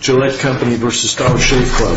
Gillette Company v. Dollar Shave Club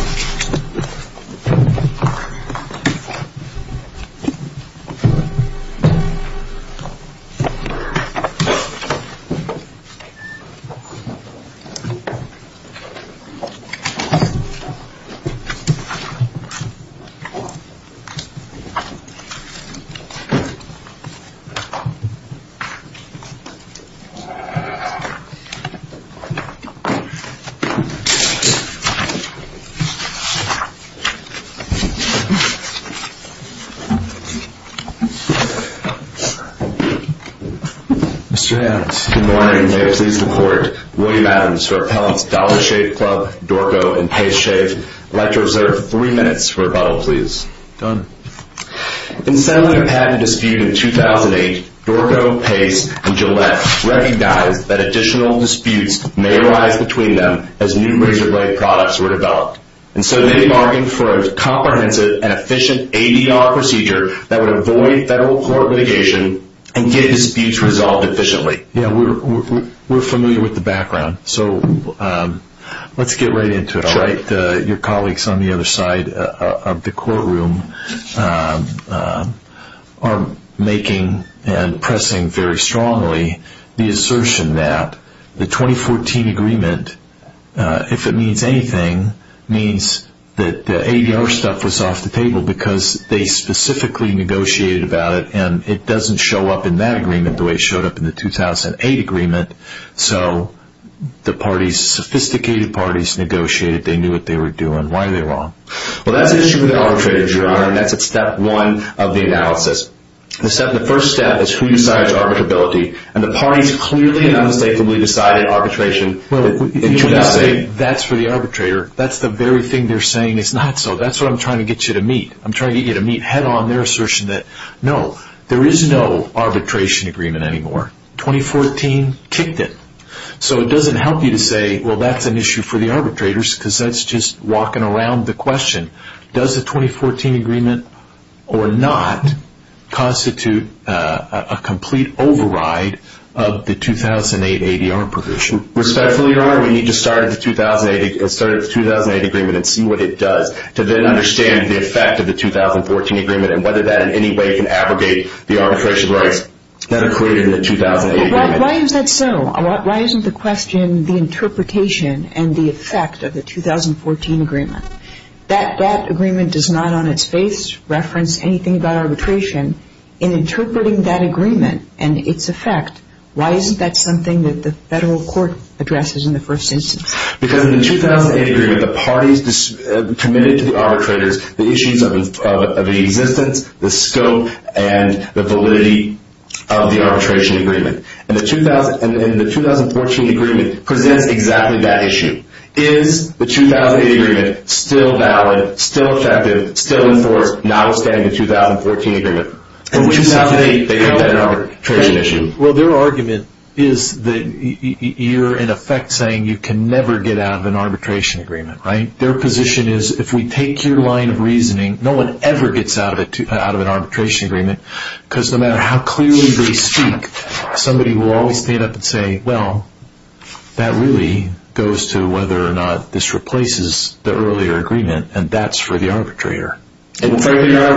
Good morning, may I please report, William Adams for Appellant's Dollar Shave Club, Dorco and Pace Shave. I'd like to reserve three minutes for rebuttal, please. Done. In settling a patent dispute in 2008, Dorco, Pace and Gillette recognized that additional disputes may arise between them as new razor blade products were developed. And so they bargained for a comprehensive and efficient ADR procedure that would avoid federal court litigation and get disputes resolved efficiently. Yeah, we're familiar with the background, so let's get right into it. Sure. Your colleagues on the other side of the courtroom are making and pressing very strongly the 2014 agreement. If it means anything, it means that the ADR stuff was off the table because they specifically negotiated about it and it doesn't show up in that agreement the way it showed up in the 2008 agreement. So the sophisticated parties negotiated, they knew what they were doing. Why are they wrong? Well, that's an issue with arbitrage, Your Honor, and that's at step one of the analysis. The first step is who decides arbitrability, and the parties clearly and unmistakably decided arbitration in 2008. That's for the arbitrator. That's the very thing they're saying is not so. That's what I'm trying to get you to meet. I'm trying to get you to meet head-on their assertion that, no, there is no arbitration agreement anymore. 2014 kicked it. So it doesn't help you to say, well, that's an issue for the arbitrators, because that's just or not constitute a complete override of the 2008 ADR provision. Respectfully, Your Honor, we need to start at the 2008 agreement and see what it does to then understand the effect of the 2014 agreement and whether that in any way can abrogate the arbitration rights that are created in the 2008 agreement. Why is that so? Why isn't the question the interpretation and the effect of the 2014 agreement? That agreement does not on its face reference anything about arbitration. In interpreting that agreement and its effect, why isn't that something that the federal court addresses in the first instance? Because in the 2008 agreement, the parties committed to the arbitrators the issues of the existence, the scope, and the validity of the arbitration agreement. And the 2014 agreement presents exactly that issue. Is the 2008 agreement still valid, still effective, still enforced, notwithstanding the 2014 agreement? In 2008, they don't have an arbitration issue. Well, their argument is that you're in effect saying you can never get out of an arbitration agreement. Their position is, if we take your line of reasoning, no one ever gets out of an arbitration agreement, because no matter how clearly they speak, somebody will always stand up and say, well, that really goes to whether or not this replaces the earlier agreement, and that's for the arbitrator. And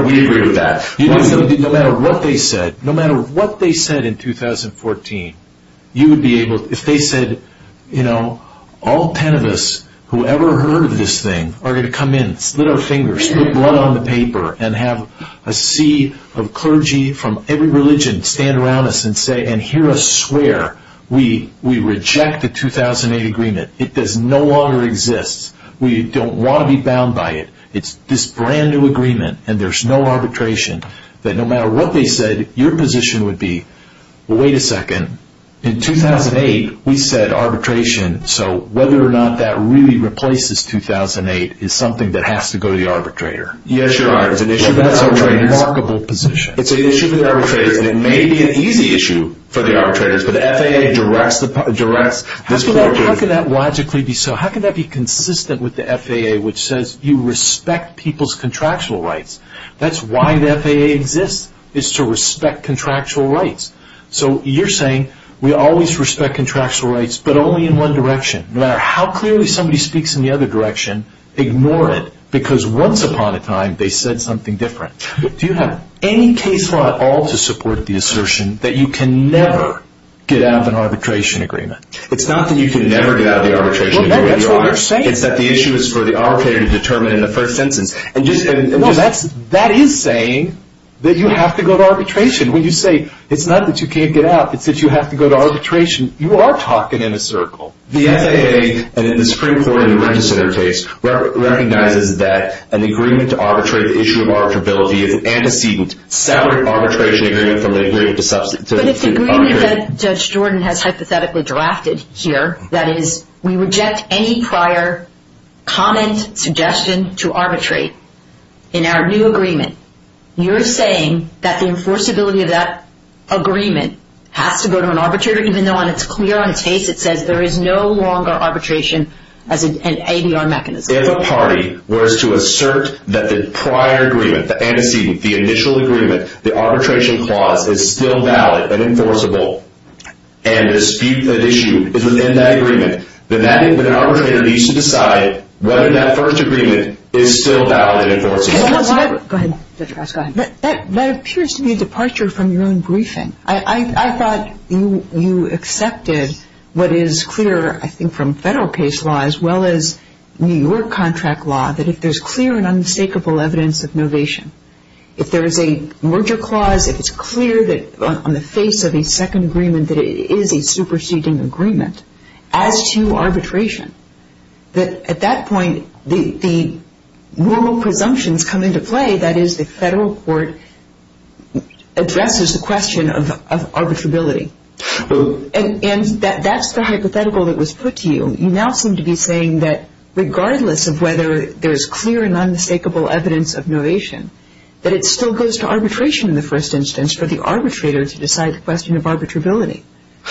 we agree with that. No matter what they said, no matter what they said in 2014, you would be able, if they said, you know, all ten of us who ever heard of this thing are going to come in, slit our fingers, put blood on the paper, and have a sea of clergy from every religion stand around us and say, and hear us swear, we reject the 2008 agreement. It does no longer exist. We don't want to be bound by it. It's this brand new agreement, and there's no arbitration, that no matter what they said, your position would be, well, wait a second, in 2008, we said arbitration, so whether or not that really replaces 2008 is something that has to go to the arbitrator. Yes, you're right. That's a remarkable position. It's an issue for the arbitrators, and it may be an easy issue for the arbitrators, but the FAA directs this to the arbitrator. How can that logically be so? How can that be consistent with the FAA, which says you respect people's contractual rights? That's why the FAA exists, is to respect contractual rights. So you're saying we always respect contractual rights, but only in one direction. No matter how clearly somebody speaks in the other direction, ignore it, because once upon a time they said something different. Do you have any case law at all to support the assertion that you can never get out of an arbitration agreement? It's not that you can never get out of the arbitration agreement, Your Honor. It's that the issue is for the arbitrator to determine in the first instance. That is saying that you have to go to arbitration. When you say it's not that you can't get out, it's that you have to go to arbitration, you are talking in a circle. The FAA, and in the Supreme Court and the Register of Case, recognizes that an agreement to arbitrate the issue of arbitrability is antecedent. Separate arbitration agreement from the agreement to arbitrate. But it's an agreement that Judge Jordan has hypothetically drafted here. That is, we reject any prior comment, suggestion to arbitrate in our new agreement. You're saying that the enforceability of that agreement has to go to an arbitrator, even though on its clear-on case it says there is no longer arbitration as an ADR mechanism. If a party were to assert that the prior agreement, the antecedent, the initial agreement, the arbitration clause is still valid and enforceable, and the dispute at issue is within that agreement, then an arbitrator needs to decide whether that first agreement is still valid and enforceable. Go ahead. That appears to be a departure from your own briefing. I thought you accepted what is clear, I think, from federal case law as well as New York contract law, that if there's clear and unmistakable evidence of novation, if there is a merger clause, if it's clear that on the face of a second agreement that it is a superseding agreement as to arbitration, that at that point the normal presumptions come into play. That is, the federal court addresses the question of arbitrability. And that's the hypothetical that was put to you. You now seem to be saying that regardless of whether there is clear and unmistakable evidence of novation, that it still goes to arbitration in the first instance for the arbitrator to decide the question of arbitrability.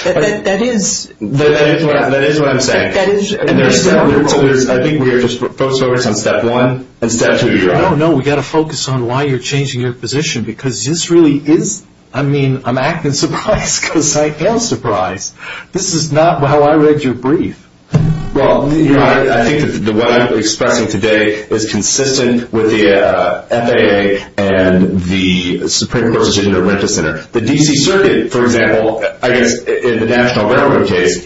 That is what I'm saying. I think we are just focused on step one and step two. No, no, we've got to focus on why you're changing your position because this really is, I mean, I'm acting surprised because I am surprised. This is not how I read your brief. Well, I think that what I'm expressing today is consistent with the FAA and the Supreme Court's decision to rent a center. The D.C. Circuit, for example, I guess in the national government case,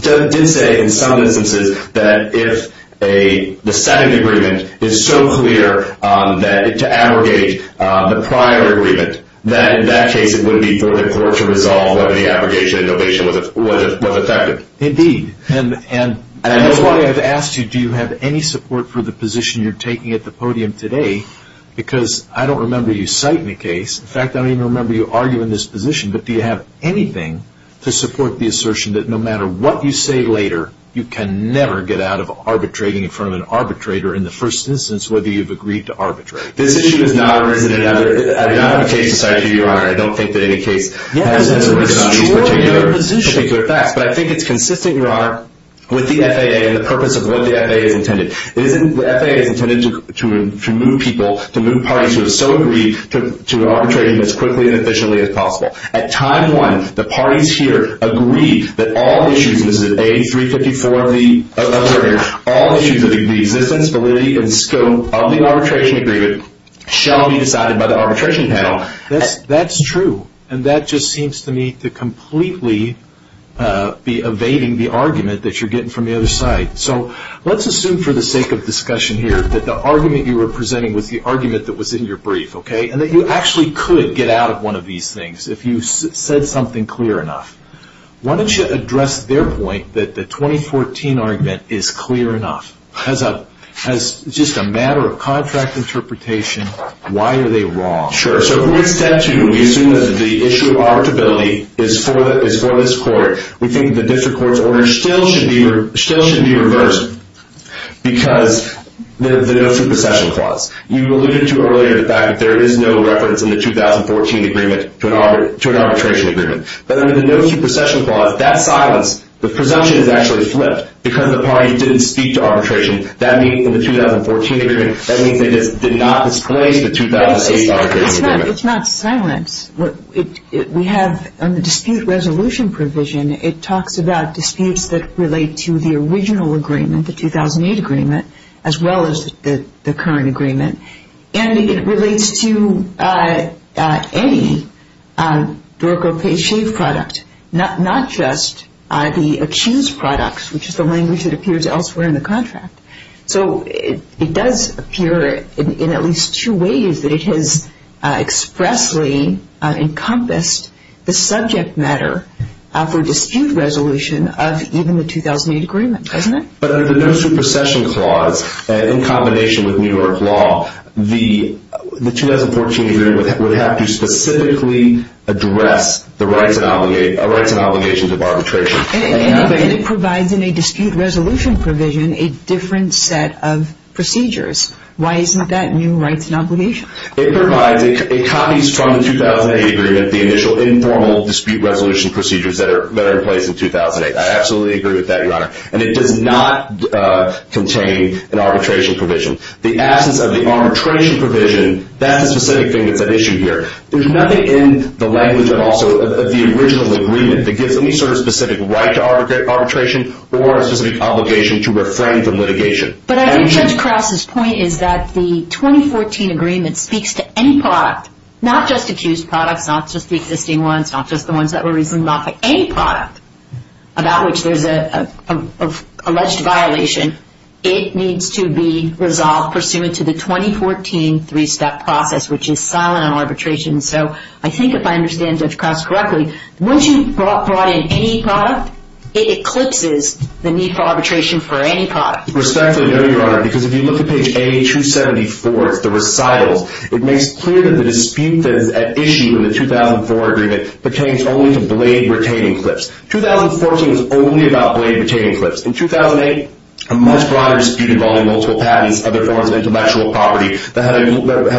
did say in some instances that if the second agreement is so clear to abrogate the prior agreement, that in that case it would be for the court to resolve whether the abrogation and novation was effective. Indeed. And that's why I've asked you do you have any support for the position you're taking at the podium today because I don't remember you citing a case. In fact, I don't even remember you arguing this position. But do you have anything to support the assertion that no matter what you say later, you can never get out of arbitrating in front of an arbitrator in the first instance whether you've agreed to arbitrate? This issue is not a case of cipher, Your Honor. I don't think that any case has a sense of what's on these particular facts. But I think it's consistent, Your Honor, with the FAA and the purpose of what the FAA has intended. The FAA has intended to move people, to move parties who have so agreed to arbitrating as quickly and efficiently as possible. At time one, the parties here agreed that all issues, and this is at A354 of the observer here, all issues of the existence, validity, and scope of the arbitration agreement shall be decided by the arbitration panel. That's true. And that just seems to me to completely be evading the argument that you're getting from the other side. So let's assume for the sake of discussion here that the argument you were presenting was the argument that was in your brief, okay, and that you actually could get out of one of these things if you said something clear enough. Why don't you address their point that the 2014 argument is clear enough? As just a matter of contract interpretation, why are they wrong? Sure. So point step two, we assume that the issue of arbitrability is for this court. We think the district court's order still should be reversed because of the no supersession clause. You alluded to earlier the fact that there is no reference in the 2014 agreement to an arbitration agreement. But under the no supersession clause, that silence, the presumption is actually flipped because the parties didn't speak to arbitration. That means in the 2014 agreement, that means they just did not displace the 2008 arbitration agreement. It's not silence. We have on the dispute resolution provision, it talks about disputes that relate to the original agreement, the 2008 agreement, as well as the current agreement. And it relates to any broker pays shave product, not just the accused products, which is the language that appears elsewhere in the contract. So it does appear in at least two ways that it has expressly encompassed the subject matter for dispute resolution of even the 2008 agreement, doesn't it? But under the no supersession clause, in combination with New York law, the 2014 agreement would have to specifically address the rights and obligations of arbitration. And it provides in a dispute resolution provision a different set of procedures. Why isn't that new rights and obligations? It copies from the 2008 agreement the initial informal dispute resolution procedures that are in place in 2008. I absolutely agree with that, Your Honor. And it does not contain an arbitration provision. The absence of the arbitration provision, that's the specific thing that's at issue here. There's nothing in the language of also the original agreement that gives any sort of specific right to arbitration or a specific obligation to refrain from litigation. But I think Judge Krause's point is that the 2014 agreement speaks to any product, not just accused products, not just the existing ones, not just the ones that were reasoned about, but any product about which there's an alleged violation. It needs to be resolved pursuant to the 2014 three-step process, which is silent on arbitration. So I think if I understand Judge Krause correctly, once you've brought in any product, it eclipses the need for arbitration for any product. Respectfully, no, Your Honor, because if you look at page A274 of the recitals, it makes clear that the dispute that is at issue in the 2004 agreement pertains only to blade-retaining clips. 2014 was only about blade-retaining clips. In 2008, a much broader dispute involving multiple patents, other forms of intellectual property that had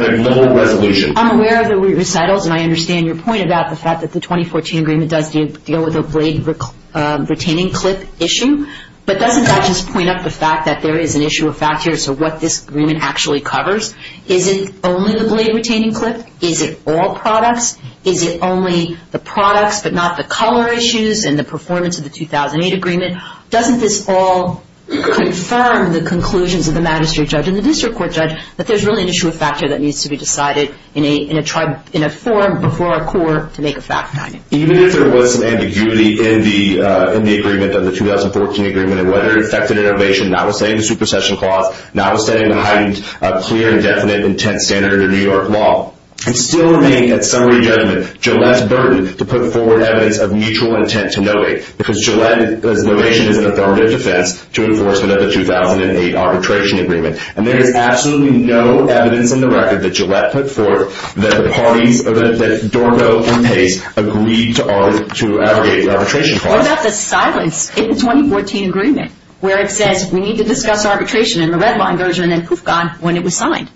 a lower resolution. I'm aware of the recitals, and I understand your point about the fact that the 2014 agreement does deal with a blade-retaining clip issue, but doesn't that just point up the fact that there is an issue of factors of what this agreement actually covers? Is it only the blade-retaining clip? Is it all products? Is it only the products but not the color issues and the performance of the 2008 agreement? Doesn't this all confirm the conclusions of the magistrate judge and the district court judge that there's really an issue of factor that needs to be decided in a forum before a court to make a fact finding? Even if there was some ambiguity in the agreement, in the 2014 agreement, and whether it affected innovation, notwithstanding the supersession clause, notwithstanding the heightened clear and definite intent standard in New York law, it still remains, at summary judgment, Gillette's burden to put forward evidence of mutual intent to know it, because Gillette's nomination is an authoritative defense to enforcement of the 2008 arbitration agreement. And there is absolutely no evidence in the record that Gillette put forth that the parties, that Dorco and Pace, agreed to abrogate the arbitration clause. What about the silence in the 2014 agreement, where it says, we need to discuss arbitration in the red-line version and then poof, gone, when it was signed?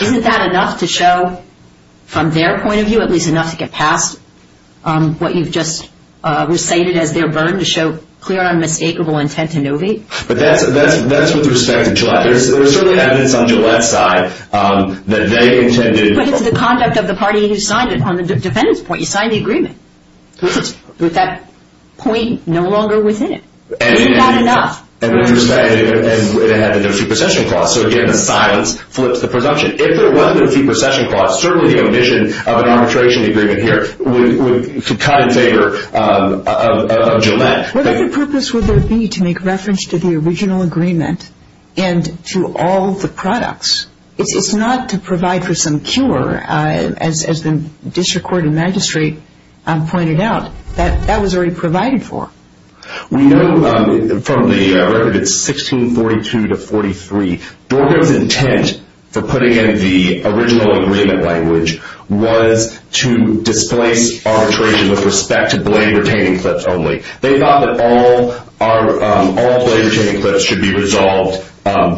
Isn't that enough to show, from their point of view, at least enough to get past what you've just recited as their burden to show clear and unmistakable intent to know it? But that's with respect to Gillette. There's certainly evidence on Gillette's side that they intended to But it's the conduct of the party who signed it on the defendant's point. You signed the agreement with that point no longer within it. Isn't that enough? And with respect, it had to do with the supersession clause. So, again, the silence flips the presumption. If there wasn't a supersession clause, certainly the omission of an arbitration agreement here would cut in favor of Gillette. What other purpose would there be to make reference to the original agreement and to all the products? It's not to provide for some cure, as the district court and magistrate pointed out. That was already provided for. We know from the record, it's 1642-43, Dworker's intent for putting in the original agreement language was to displace arbitration with respect to blade retaining clips only. They thought that all blade retaining clips should be resolved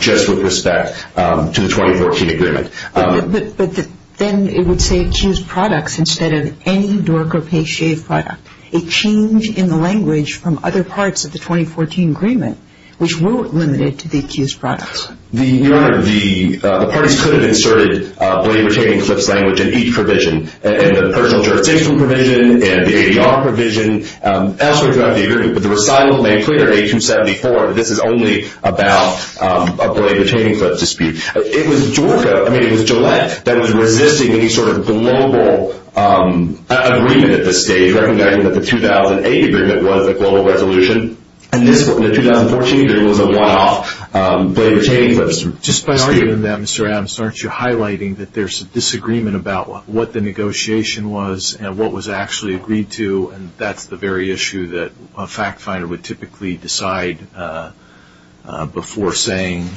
just with respect to the 2014 agreement. But then it would say accused products instead of any Dworker-Patia product. A change in the language from other parts of the 2014 agreement, which were limited to the accused products. Your Honor, the parties could have inserted blade retaining clips language in each provision, in the personal jurisdiction provision, in the ADR provision, elsewhere throughout the agreement. But the recital made clear in 8274 that this is only about a blade retaining clip dispute. It was Dworker, I mean it was Gillette, that was resisting any sort of global agreement at this stage, recommending that the 2008 agreement was a global resolution. And in 2014, there was a one-off blade retaining clip dispute. Just by arguing that, Mr. Adams, aren't you highlighting that there's a disagreement about what the negotiation was and what was actually agreed to? And that's the very issue that a fact finder would typically decide before saying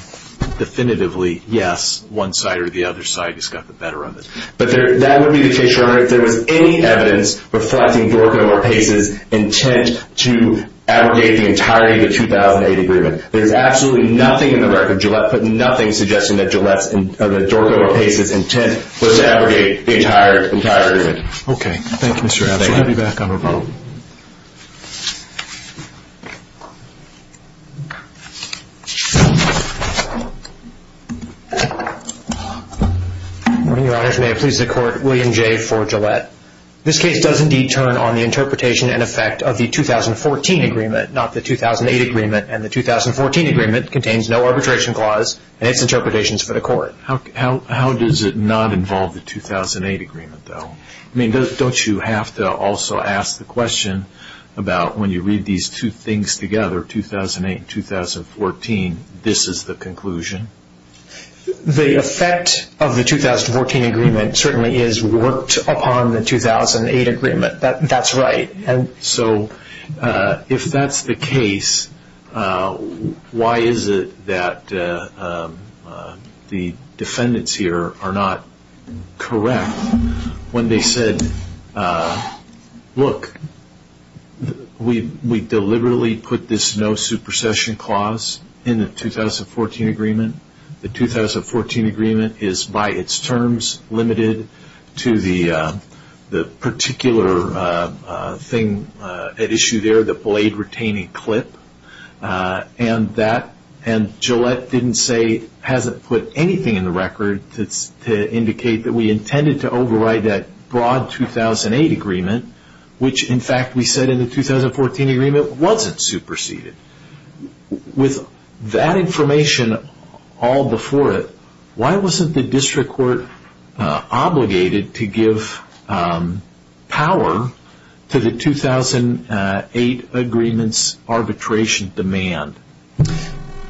definitively, yes, one side or the other side has got the better of it. But that would be the case, Your Honor, if there was any evidence reflecting Dworker or Patia's intent to abrogate the entirety of the 2008 agreement. There's absolutely nothing in the record, Gillette put nothing suggesting that Dworker or Patia's intent was to abrogate the entire agreement. Okay. Thank you, Mr. Adams. We'll be back on the phone. Thank you. Good morning, Your Honors. May it please the Court, William J. for Gillette. This case does indeed turn on the interpretation and effect of the 2014 agreement, not the 2008 agreement, and the 2014 agreement contains no arbitration clause in its interpretations for the Court. How does it not involve the 2008 agreement, though? I mean, don't you have to also ask the question about when you read these two things together, 2008 and 2014, this is the conclusion? The effect of the 2014 agreement certainly is worked upon the 2008 agreement. That's right. And so if that's the case, why is it that the defendants here are not correct when they said, look, we deliberately put this no supersession clause in the 2014 agreement. The 2014 agreement is by its terms limited to the particular thing at issue there, the blade retaining clip. And Gillette didn't say, hasn't put anything in the record to indicate that we intended to override that broad 2008 agreement, which in fact we said in the 2014 agreement wasn't superseded. With that information all before it, why wasn't the District Court obligated to give power to the 2008 agreement's arbitration demand?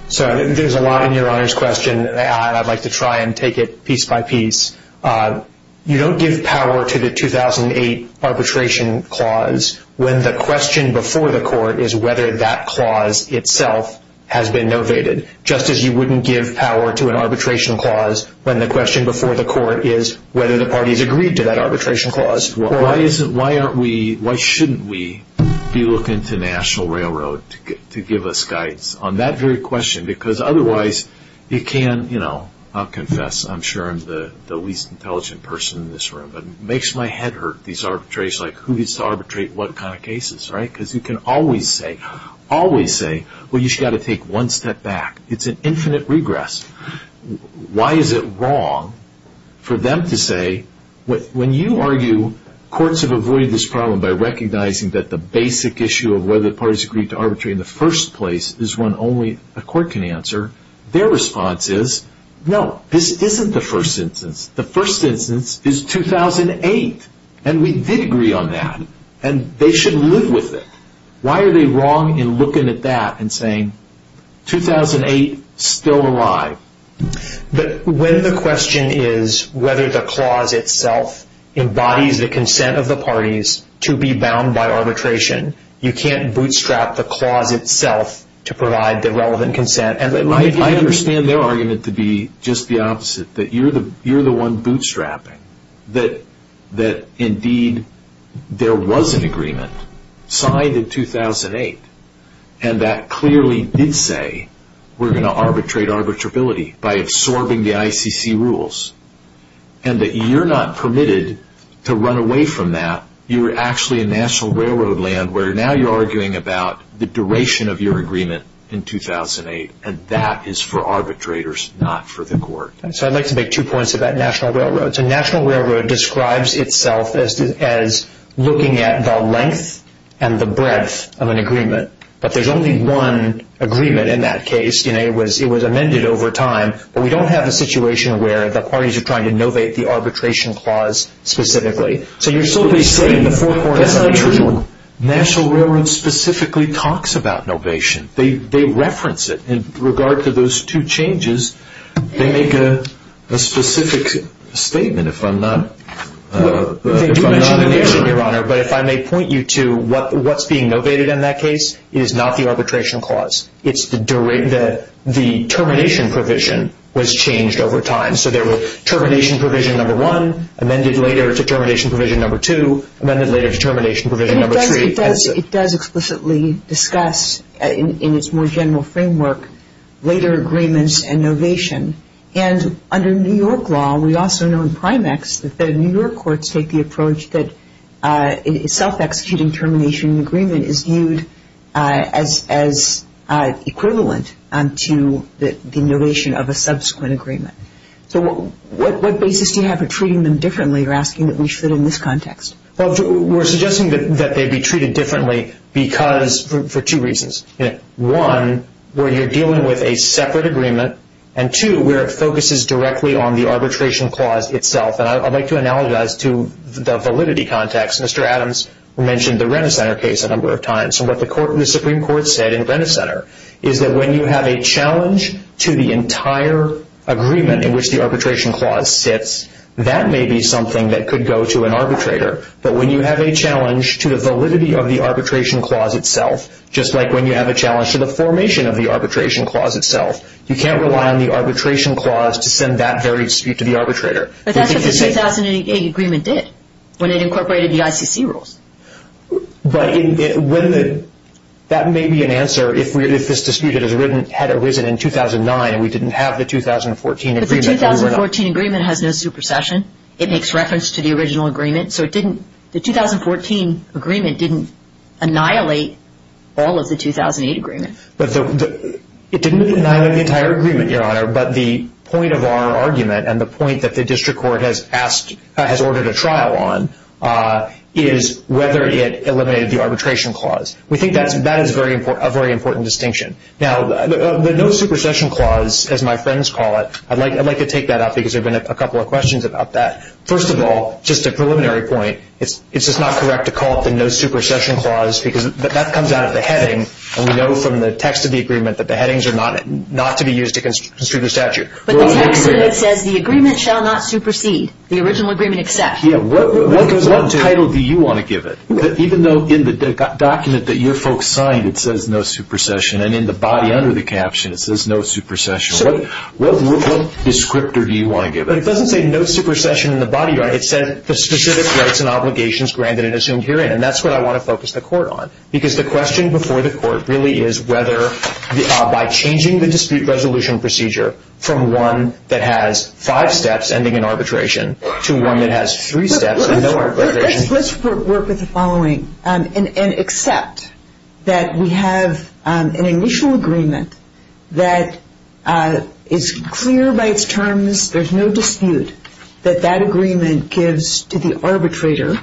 So there's a lot in Your Honor's question, and I'd like to try and take it piece by piece. You don't give power to the 2008 arbitration clause when the question before the court is whether that clause itself has been novated, just as you wouldn't give power to an arbitration clause when the question before the court is whether the parties agreed to that arbitration clause. Why shouldn't we be looking to National Railroad to give us guides on that very question? Because otherwise it can, you know, I'll confess I'm sure I'm the least intelligent person in this room, but it makes my head hurt, these arbitrations, like who gets to arbitrate what kind of cases, right? Because you can always say, always say, well, you've just got to take one step back. It's an infinite regress. Why is it wrong for them to say, when you argue courts have avoided this problem by recognizing that the basic issue of whether the parties agreed to arbitrate in the first place is one only a court can answer, their response is, no, this isn't the first instance. The first instance is 2008, and we did agree on that, and they should live with it. Why are they wrong in looking at that and saying 2008 still arrived? But when the question is whether the clause itself embodies the consent of the parties to be bound by arbitration, you can't bootstrap the clause itself to provide the relevant consent. I understand their argument to be just the opposite, that you're the one bootstrapping, that indeed there was an agreement signed in 2008, and that clearly did say we're going to arbitrate arbitrability by absorbing the ICC rules, and that you're not permitted to run away from that. You're actually in National Railroad land where now you're arguing about the duration of your agreement in 2008, and that is for arbitrators, not for the court. So I'd like to make two points about National Railroad. National Railroad describes itself as looking at the length and the breadth of an agreement, but there's only one agreement in that case. It was amended over time, but we don't have a situation where the parties are trying to novate the arbitration clause specifically. So you're still basically in the forecourt. That's not true. National Railroad specifically talks about novation. They reference it in regard to those two changes. They make a specific statement, if I'm not mistaken, Your Honor. But if I may point you to what's being novated in that case, it is not the arbitration clause. It's the termination provision was changed over time. So there was termination provision number one, amended later to termination provision number two, amended later to termination provision number three. It does explicitly discuss, in its more general framework, later agreements and novation. And under New York law, we also know in primex that the New York courts take the approach that a self-executing termination agreement is viewed as equivalent to the novation of a subsequent agreement. So what basis do you have for treating them differently? You're asking that we should in this context. Well, we're suggesting that they be treated differently for two reasons. One, where you're dealing with a separate agreement. And two, where it focuses directly on the arbitration clause itself. And I'd like to analogize to the validity context. Mr. Adams mentioned the Renner Center case a number of times. And what the Supreme Court said in Renner Center is that when you have a challenge to the entire agreement in which the arbitration clause sits, that may be something that could go to an arbitrator. But when you have a challenge to the validity of the arbitration clause itself, just like when you have a challenge to the formation of the arbitration clause itself, you can't rely on the arbitration clause to send that very dispute to the arbitrator. But that's what the 2008 agreement did when it incorporated the ICC rules. But that may be an answer if this dispute had arisen in 2009 and we didn't have the 2014 agreement. But the 2014 agreement has no supersession. It makes reference to the original agreement. So the 2014 agreement didn't annihilate all of the 2008 agreement. It didn't annihilate the entire agreement, Your Honor. But the point of our argument and the point that the district court has ordered a trial on is whether it eliminated the arbitration clause. We think that is a very important distinction. Now, the no supersession clause, as my friends call it, I'd like to take that up because there have been a couple of questions about that. First of all, just a preliminary point, it's just not correct to call it the no supersession clause because that comes out of the heading. And we know from the text of the agreement that the headings are not to be used to construe the statute. But the text of it says the agreement shall not supersede. The original agreement accepts. What title do you want to give it? Even though in the document that your folks signed it says no supersession and in the body under the caption it says no supersession, what descriptor do you want to give it? It doesn't say no supersession in the body, Your Honor. It says the specific rights and obligations granted and assumed herein. And that's what I want to focus the court on because the question before the court really is whether by changing the dispute resolution procedure from one that has five steps ending in arbitration to one that has three steps and no arbitration. Let's work with the following and accept that we have an initial agreement that is clear by its terms, there's no dispute, that that agreement gives to the arbitrator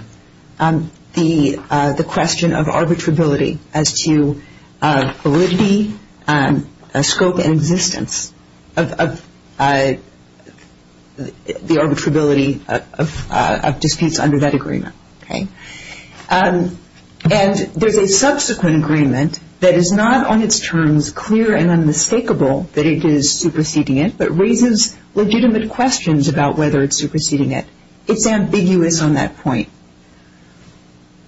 the question of arbitrability as to validity, scope, and existence of the arbitrability of disputes under that agreement. And there's a subsequent agreement that is not on its terms clear and unmistakable that it is superseding it but raises legitimate questions about whether it's superseding it. It's ambiguous on that point.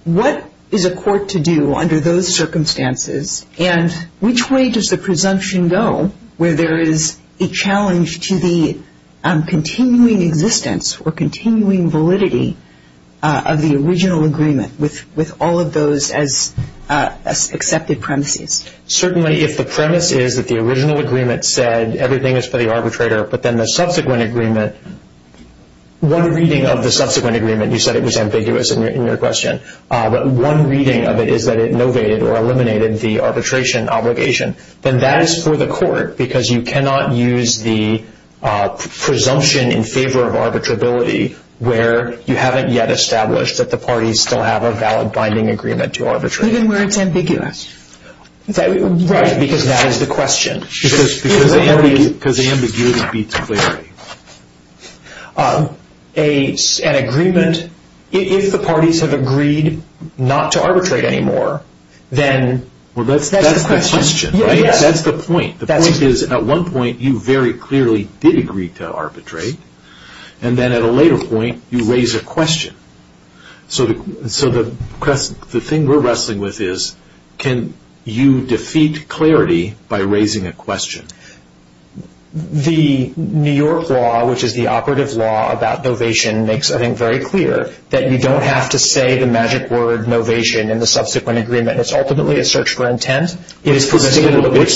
What is a court to do under those circumstances and which way does the presumption go where there is a challenge to the continuing existence or continuing validity of the original agreement with all of those as accepted premises? Certainly if the premise is that the original agreement said everything is for the arbitrator but then the subsequent agreement, one reading of the subsequent agreement, you said it was ambiguous in your question, but one reading of it is that it novated or eliminated the arbitration obligation, then that is for the court because you cannot use the presumption in favor of arbitrability where you haven't yet established that the parties still have a valid binding agreement to arbitrate. Put it in where it's ambiguous. Right, because that is the question. Because ambiguity beats clarity. An agreement, if the parties have agreed not to arbitrate anymore, then that's the question. That's the point. The point is at one point you very clearly did agree to arbitrate and then at a later point you raise a question. So the thing we're wrestling with is can you defeat clarity by raising a question? The New York law, which is the operative law about novation, makes I think very clear that you don't have to say the magic word novation in the subsequent agreement. It's ultimately a search for intent. What's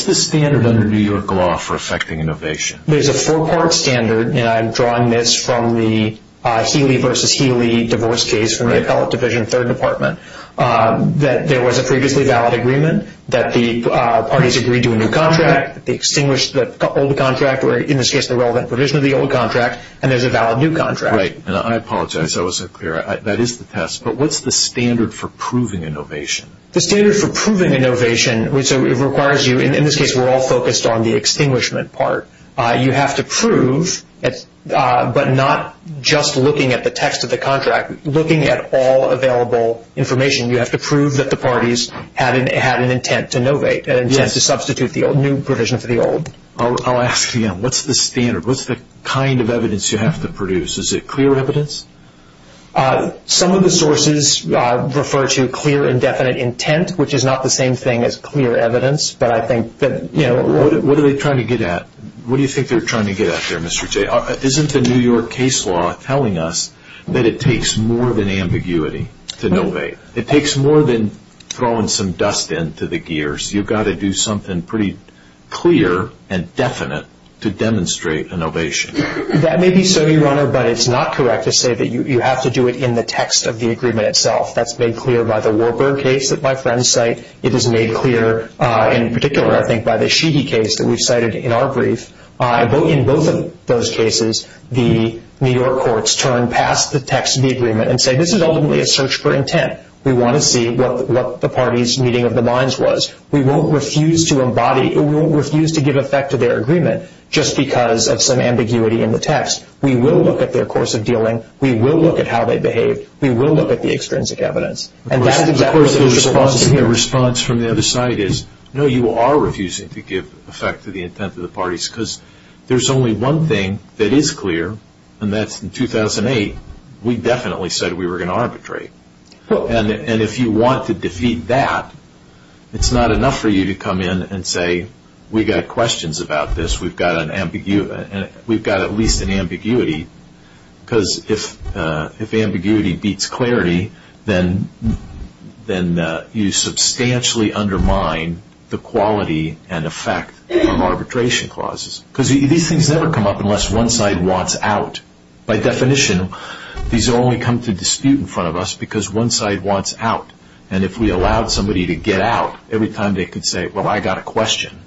the standard under New York law for effecting a novation? There's a four-part standard, and I'm drawing this from the Healy v. Healy divorce case from the Appellate Division, Third Department, that there was a previously valid agreement, that the parties agreed to a new contract, they extinguished the old contract, or in this case the relevant provision of the old contract, and there's a valid new contract. Right, and I apologize. That is the test. But what's the standard for proving a novation? The standard for proving a novation requires you, and in this case we're all focused on the extinguishment part, you have to prove, but not just looking at the text of the contract, looking at all available information, you have to prove that the parties had an intent to novate, an intent to substitute the new provision for the old. I'll ask again. What's the standard? What's the kind of evidence you have to produce? Is it clear evidence? Some of the sources refer to clear and definite intent, which is not the same thing as clear evidence, but I think that, you know. What are they trying to get at? What do you think they're trying to get at there, Mr. Jay? Isn't the New York case law telling us that it takes more than ambiguity to novate? It takes more than throwing some dust into the gears. You've got to do something pretty clear and definite to demonstrate a novation. That may be so, Your Honor, but it's not correct to say that you have to do it in the text of the agreement itself. That's made clear by the Warburg case that my friends cite. It is made clear in particular, I think, by the Sheedy case that we've cited in our brief. In both of those cases, the New York courts turn past the text of the agreement and say this is ultimately a search for intent. We want to see what the party's meeting of the minds was. We won't refuse to give effect to their agreement just because of some ambiguity in the text. We will look at their course of dealing. We will look at how they behaved. We will look at the extrinsic evidence. Of course, the response from the other side is no, you are refusing to give effect to the intent of the parties because there's only one thing that is clear, and that's in 2008, we definitely said we were going to arbitrate. If you want to defeat that, it's not enough for you to come in and say we've got questions about this. We've got at least an ambiguity because if ambiguity beats clarity, then you substantially undermine the quality and effect of arbitration clauses because these things never come up unless one side wants out. By definition, these only come to dispute in front of us because one side wants out, and if we allowed somebody to get out every time they could say, well, I've got a question,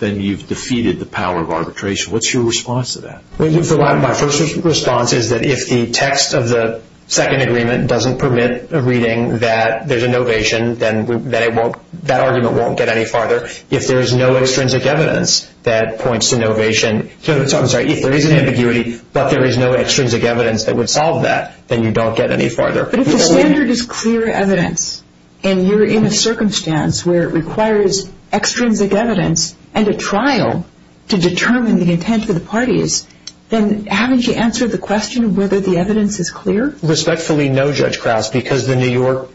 then you've defeated the power of arbitration. What's your response to that? My first response is that if the text of the second agreement doesn't permit a reading that there's a novation, then that argument won't get any farther. If there is no extrinsic evidence that points to novation, I'm sorry, if there is an ambiguity but there is no extrinsic evidence that would solve that, then you don't get any farther. But if the standard is clear evidence and you're in a circumstance where it requires extrinsic evidence and a trial to determine the intent of the parties, then haven't you answered the question of whether the evidence is clear? Respectfully, no, Judge Krauss, because the New York,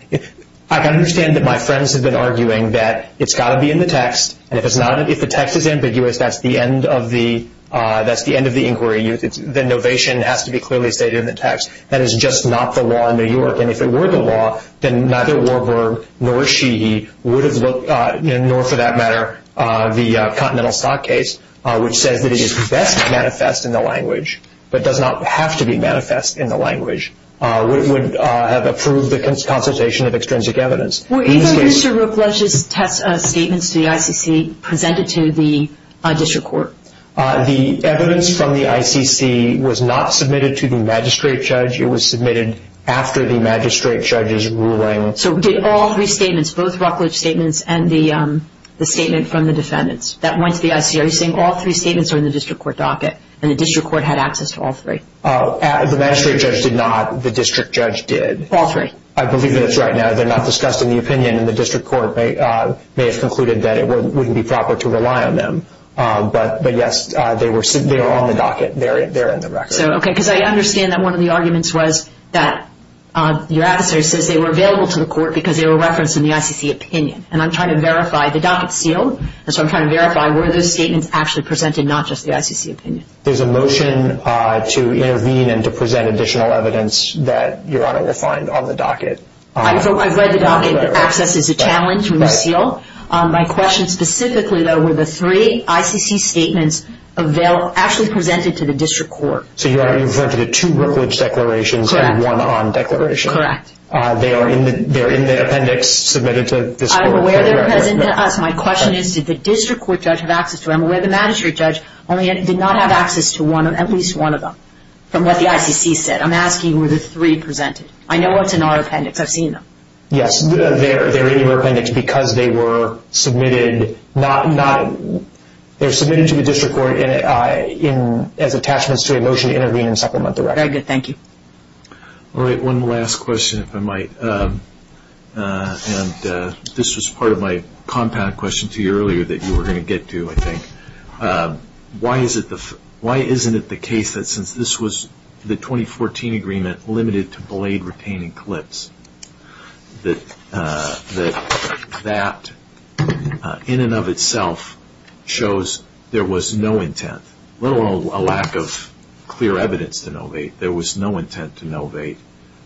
I understand that my friends have been arguing that it's got to be in the text, and if the text is ambiguous, that's the end of the inquiry. The novation has to be clearly stated in the text. That is just not the law in New York, and if it were the law, then neither Warburg nor Sheehy would have looked, nor for that matter, the Continental Stock case, which says that it is best to manifest in the language but does not have to be manifest in the language, would have approved the consultation of extrinsic evidence. Were either of Mr. Ruffledge's statements to the ICC presented to the district court? The evidence from the ICC was not submitted to the magistrate judge. It was submitted after the magistrate judge's ruling. So did all three statements, both Ruffledge's statements and the statement from the defendants, that went to the ICC, are you saying all three statements are in the district court docket and the district court had access to all three? The magistrate judge did not. The district judge did. All three? I believe that's right now. They're not discussed in the opinion, and the district court may have concluded that it wouldn't be proper to rely on them. But, yes, they were on the docket. They're in the record. Okay, because I understand that one of the arguments was that your adversary says they were available to the court because they were referenced in the ICC opinion. And I'm trying to verify the docket's sealed, and so I'm trying to verify were those statements actually presented, not just the ICC opinion. There's a motion to intervene and to present additional evidence that Your Honor will find on the docket. I've read the docket. The access is a challenge when you seal. My question specifically, though, were the three ICC statements actually presented to the district court? So, Your Honor, you're referring to the two records declarations and the one on declaration. Correct. They are in the appendix submitted to the district court. I'm aware they were presented to us. My question is did the district court judge have access to them? I'm aware the magistrate judge only did not have access to at least one of them from what the ICC said. I'm asking were the three presented. I know what's in our appendix. I've seen them. Yes, they're in your appendix because they were submitted. They're submitted to the district court as attachments to a motion to intervene and supplement the record. Very good. Thank you. All right. One last question, if I might, and this was part of my compound question to you earlier that you were going to get to, I think. Why isn't it the case that since this was the 2014 agreement limited to blade retaining clips, that that in and of itself shows there was no intent, let alone a lack of clear evidence to novate, there was no intent to novate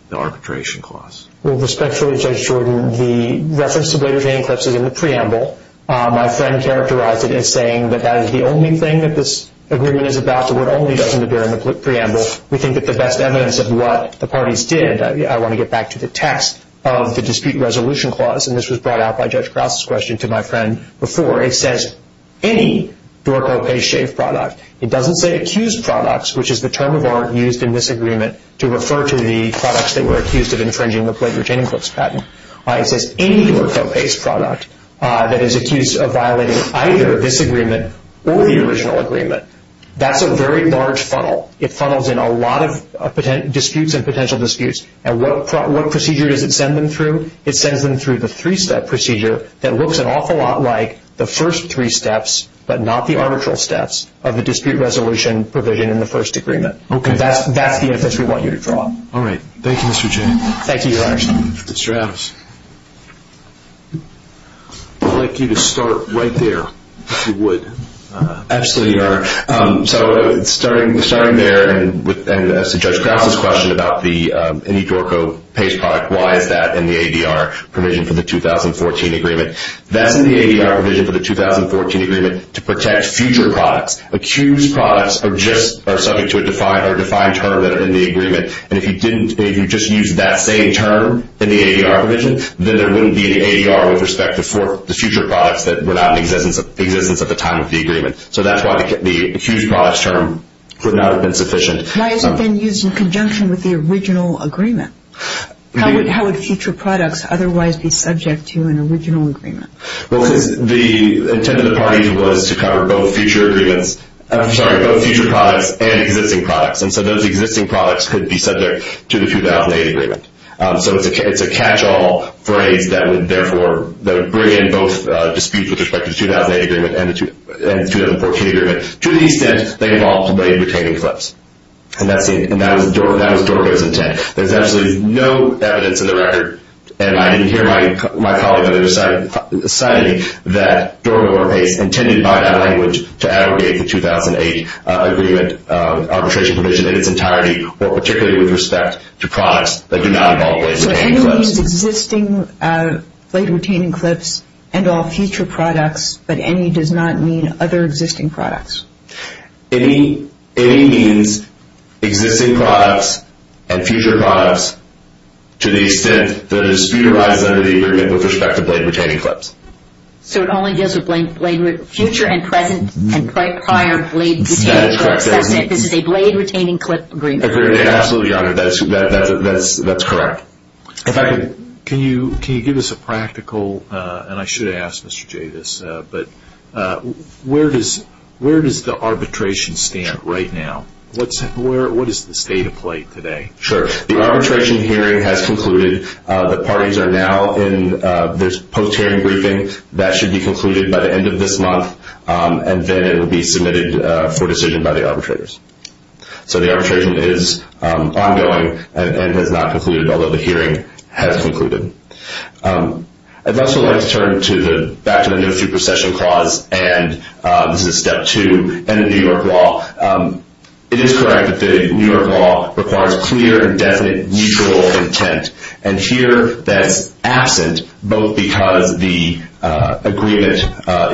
the arbitration clause? Well, respectfully, Judge Jordan, the reference to blade retaining clips is in the preamble. My friend characterized it as saying that that is the only thing that this agreement is about. The word only doesn't appear in the preamble. We think that the best evidence of what the parties did, I want to get back to the text of the dispute resolution clause, and this was brought out by Judge Krause's question to my friend before. It says any Dorco Pace shave product. It doesn't say accused products, which is the term of art used in this agreement to refer to the products that were accused of infringing the blade retaining clips patent. It says any Dorco Pace product that is accused of violating either this agreement or the original agreement. That's a very large funnel. It funnels in a lot of disputes and potential disputes. And what procedure does it send them through? It sends them through the three-step procedure that looks an awful lot like the first three steps, but not the arbitral steps of the dispute resolution provision in the first agreement. Okay. That's the emphasis we want you to draw. All right. Thank you, Mr. Jay. Thank you, Your Honor. Mr. Adams. I'd like you to start right there, if you would. Absolutely, Your Honor. So starting there and as to Judge Krause's question about the any Dorco Pace product, why is that in the ADR provision for the 2014 agreement? That's in the ADR provision for the 2014 agreement to protect future products. Accused products are just subject to a defined term that are in the agreement, and if you just used that same term in the ADR provision, then there wouldn't be an ADR with respect to future products that were not in existence at the time of the agreement. So that's why the accused products term would not have been sufficient. Why is it then used in conjunction with the original agreement? How would future products otherwise be subject to an original agreement? The intent of the parties was to cover both future products and existing products, and so those existing products could be subject to the 2008 agreement. So it's a catch-all phrase that would, therefore, bring in both disputes with respect to the 2008 agreement and the 2014 agreement, to the extent they involved money in retaining clips, and that was Dorco's intent. There's absolutely no evidence in the record, and I didn't hear my colleague on the other side, that Dorco or Hayes intended by that language to aggregate the 2008 agreement arbitration provision in its entirety, or particularly with respect to products that do not involve blade retaining clips. So any means existing blade retaining clips and all future products, but any does not mean other existing products. Any means existing products and future products, to the extent that a dispute arises under the agreement with respect to blade retaining clips. So it only deals with future and present and prior blade retaining clips. That's correct. This is a blade retaining clip agreement. Absolutely, Your Honor. That's correct. If I could, can you give us a practical, and I should ask Mr. J this, but where does the arbitration stand right now? What is the state of play today? Sure. The arbitration hearing has concluded. The parties are now in the post-hearing briefing. That should be concluded by the end of this month, and then it will be submitted for decision by the arbitrators. So the arbitration is ongoing and has not concluded, although the hearing has concluded. I'd also like to turn back to the no supersession clause, and this is step two in the New York law. It is correct that the New York law requires clear and definite mutual intent, and here that's absent both because the agreement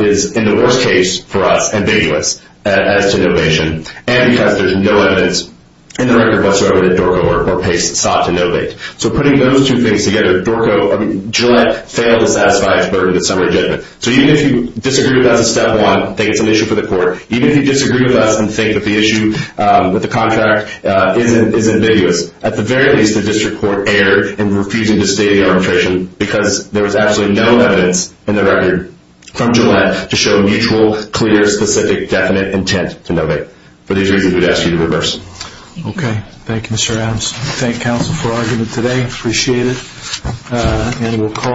is, in the worst case for us, ambiguous as to novation, and because there's no evidence in the record whatsoever that Dorco or Pace sought to novate. So putting those two things together, Dorco, I mean Gillette, failed to satisfy its burden of summary judgment. So even if you disagree with us on step one, think it's an issue for the court, even if you disagree with us and think that the issue with the contract is ambiguous, at the very least the district court erred in refusing to state the arbitration because there was absolutely no evidence in the record from Gillette to show mutual, clear, specific, definite intent to novate. For these reasons, we'd ask you to reverse. Okay. Thank you, Mr. Adams. Thank counsel for arguing today. Appreciate it.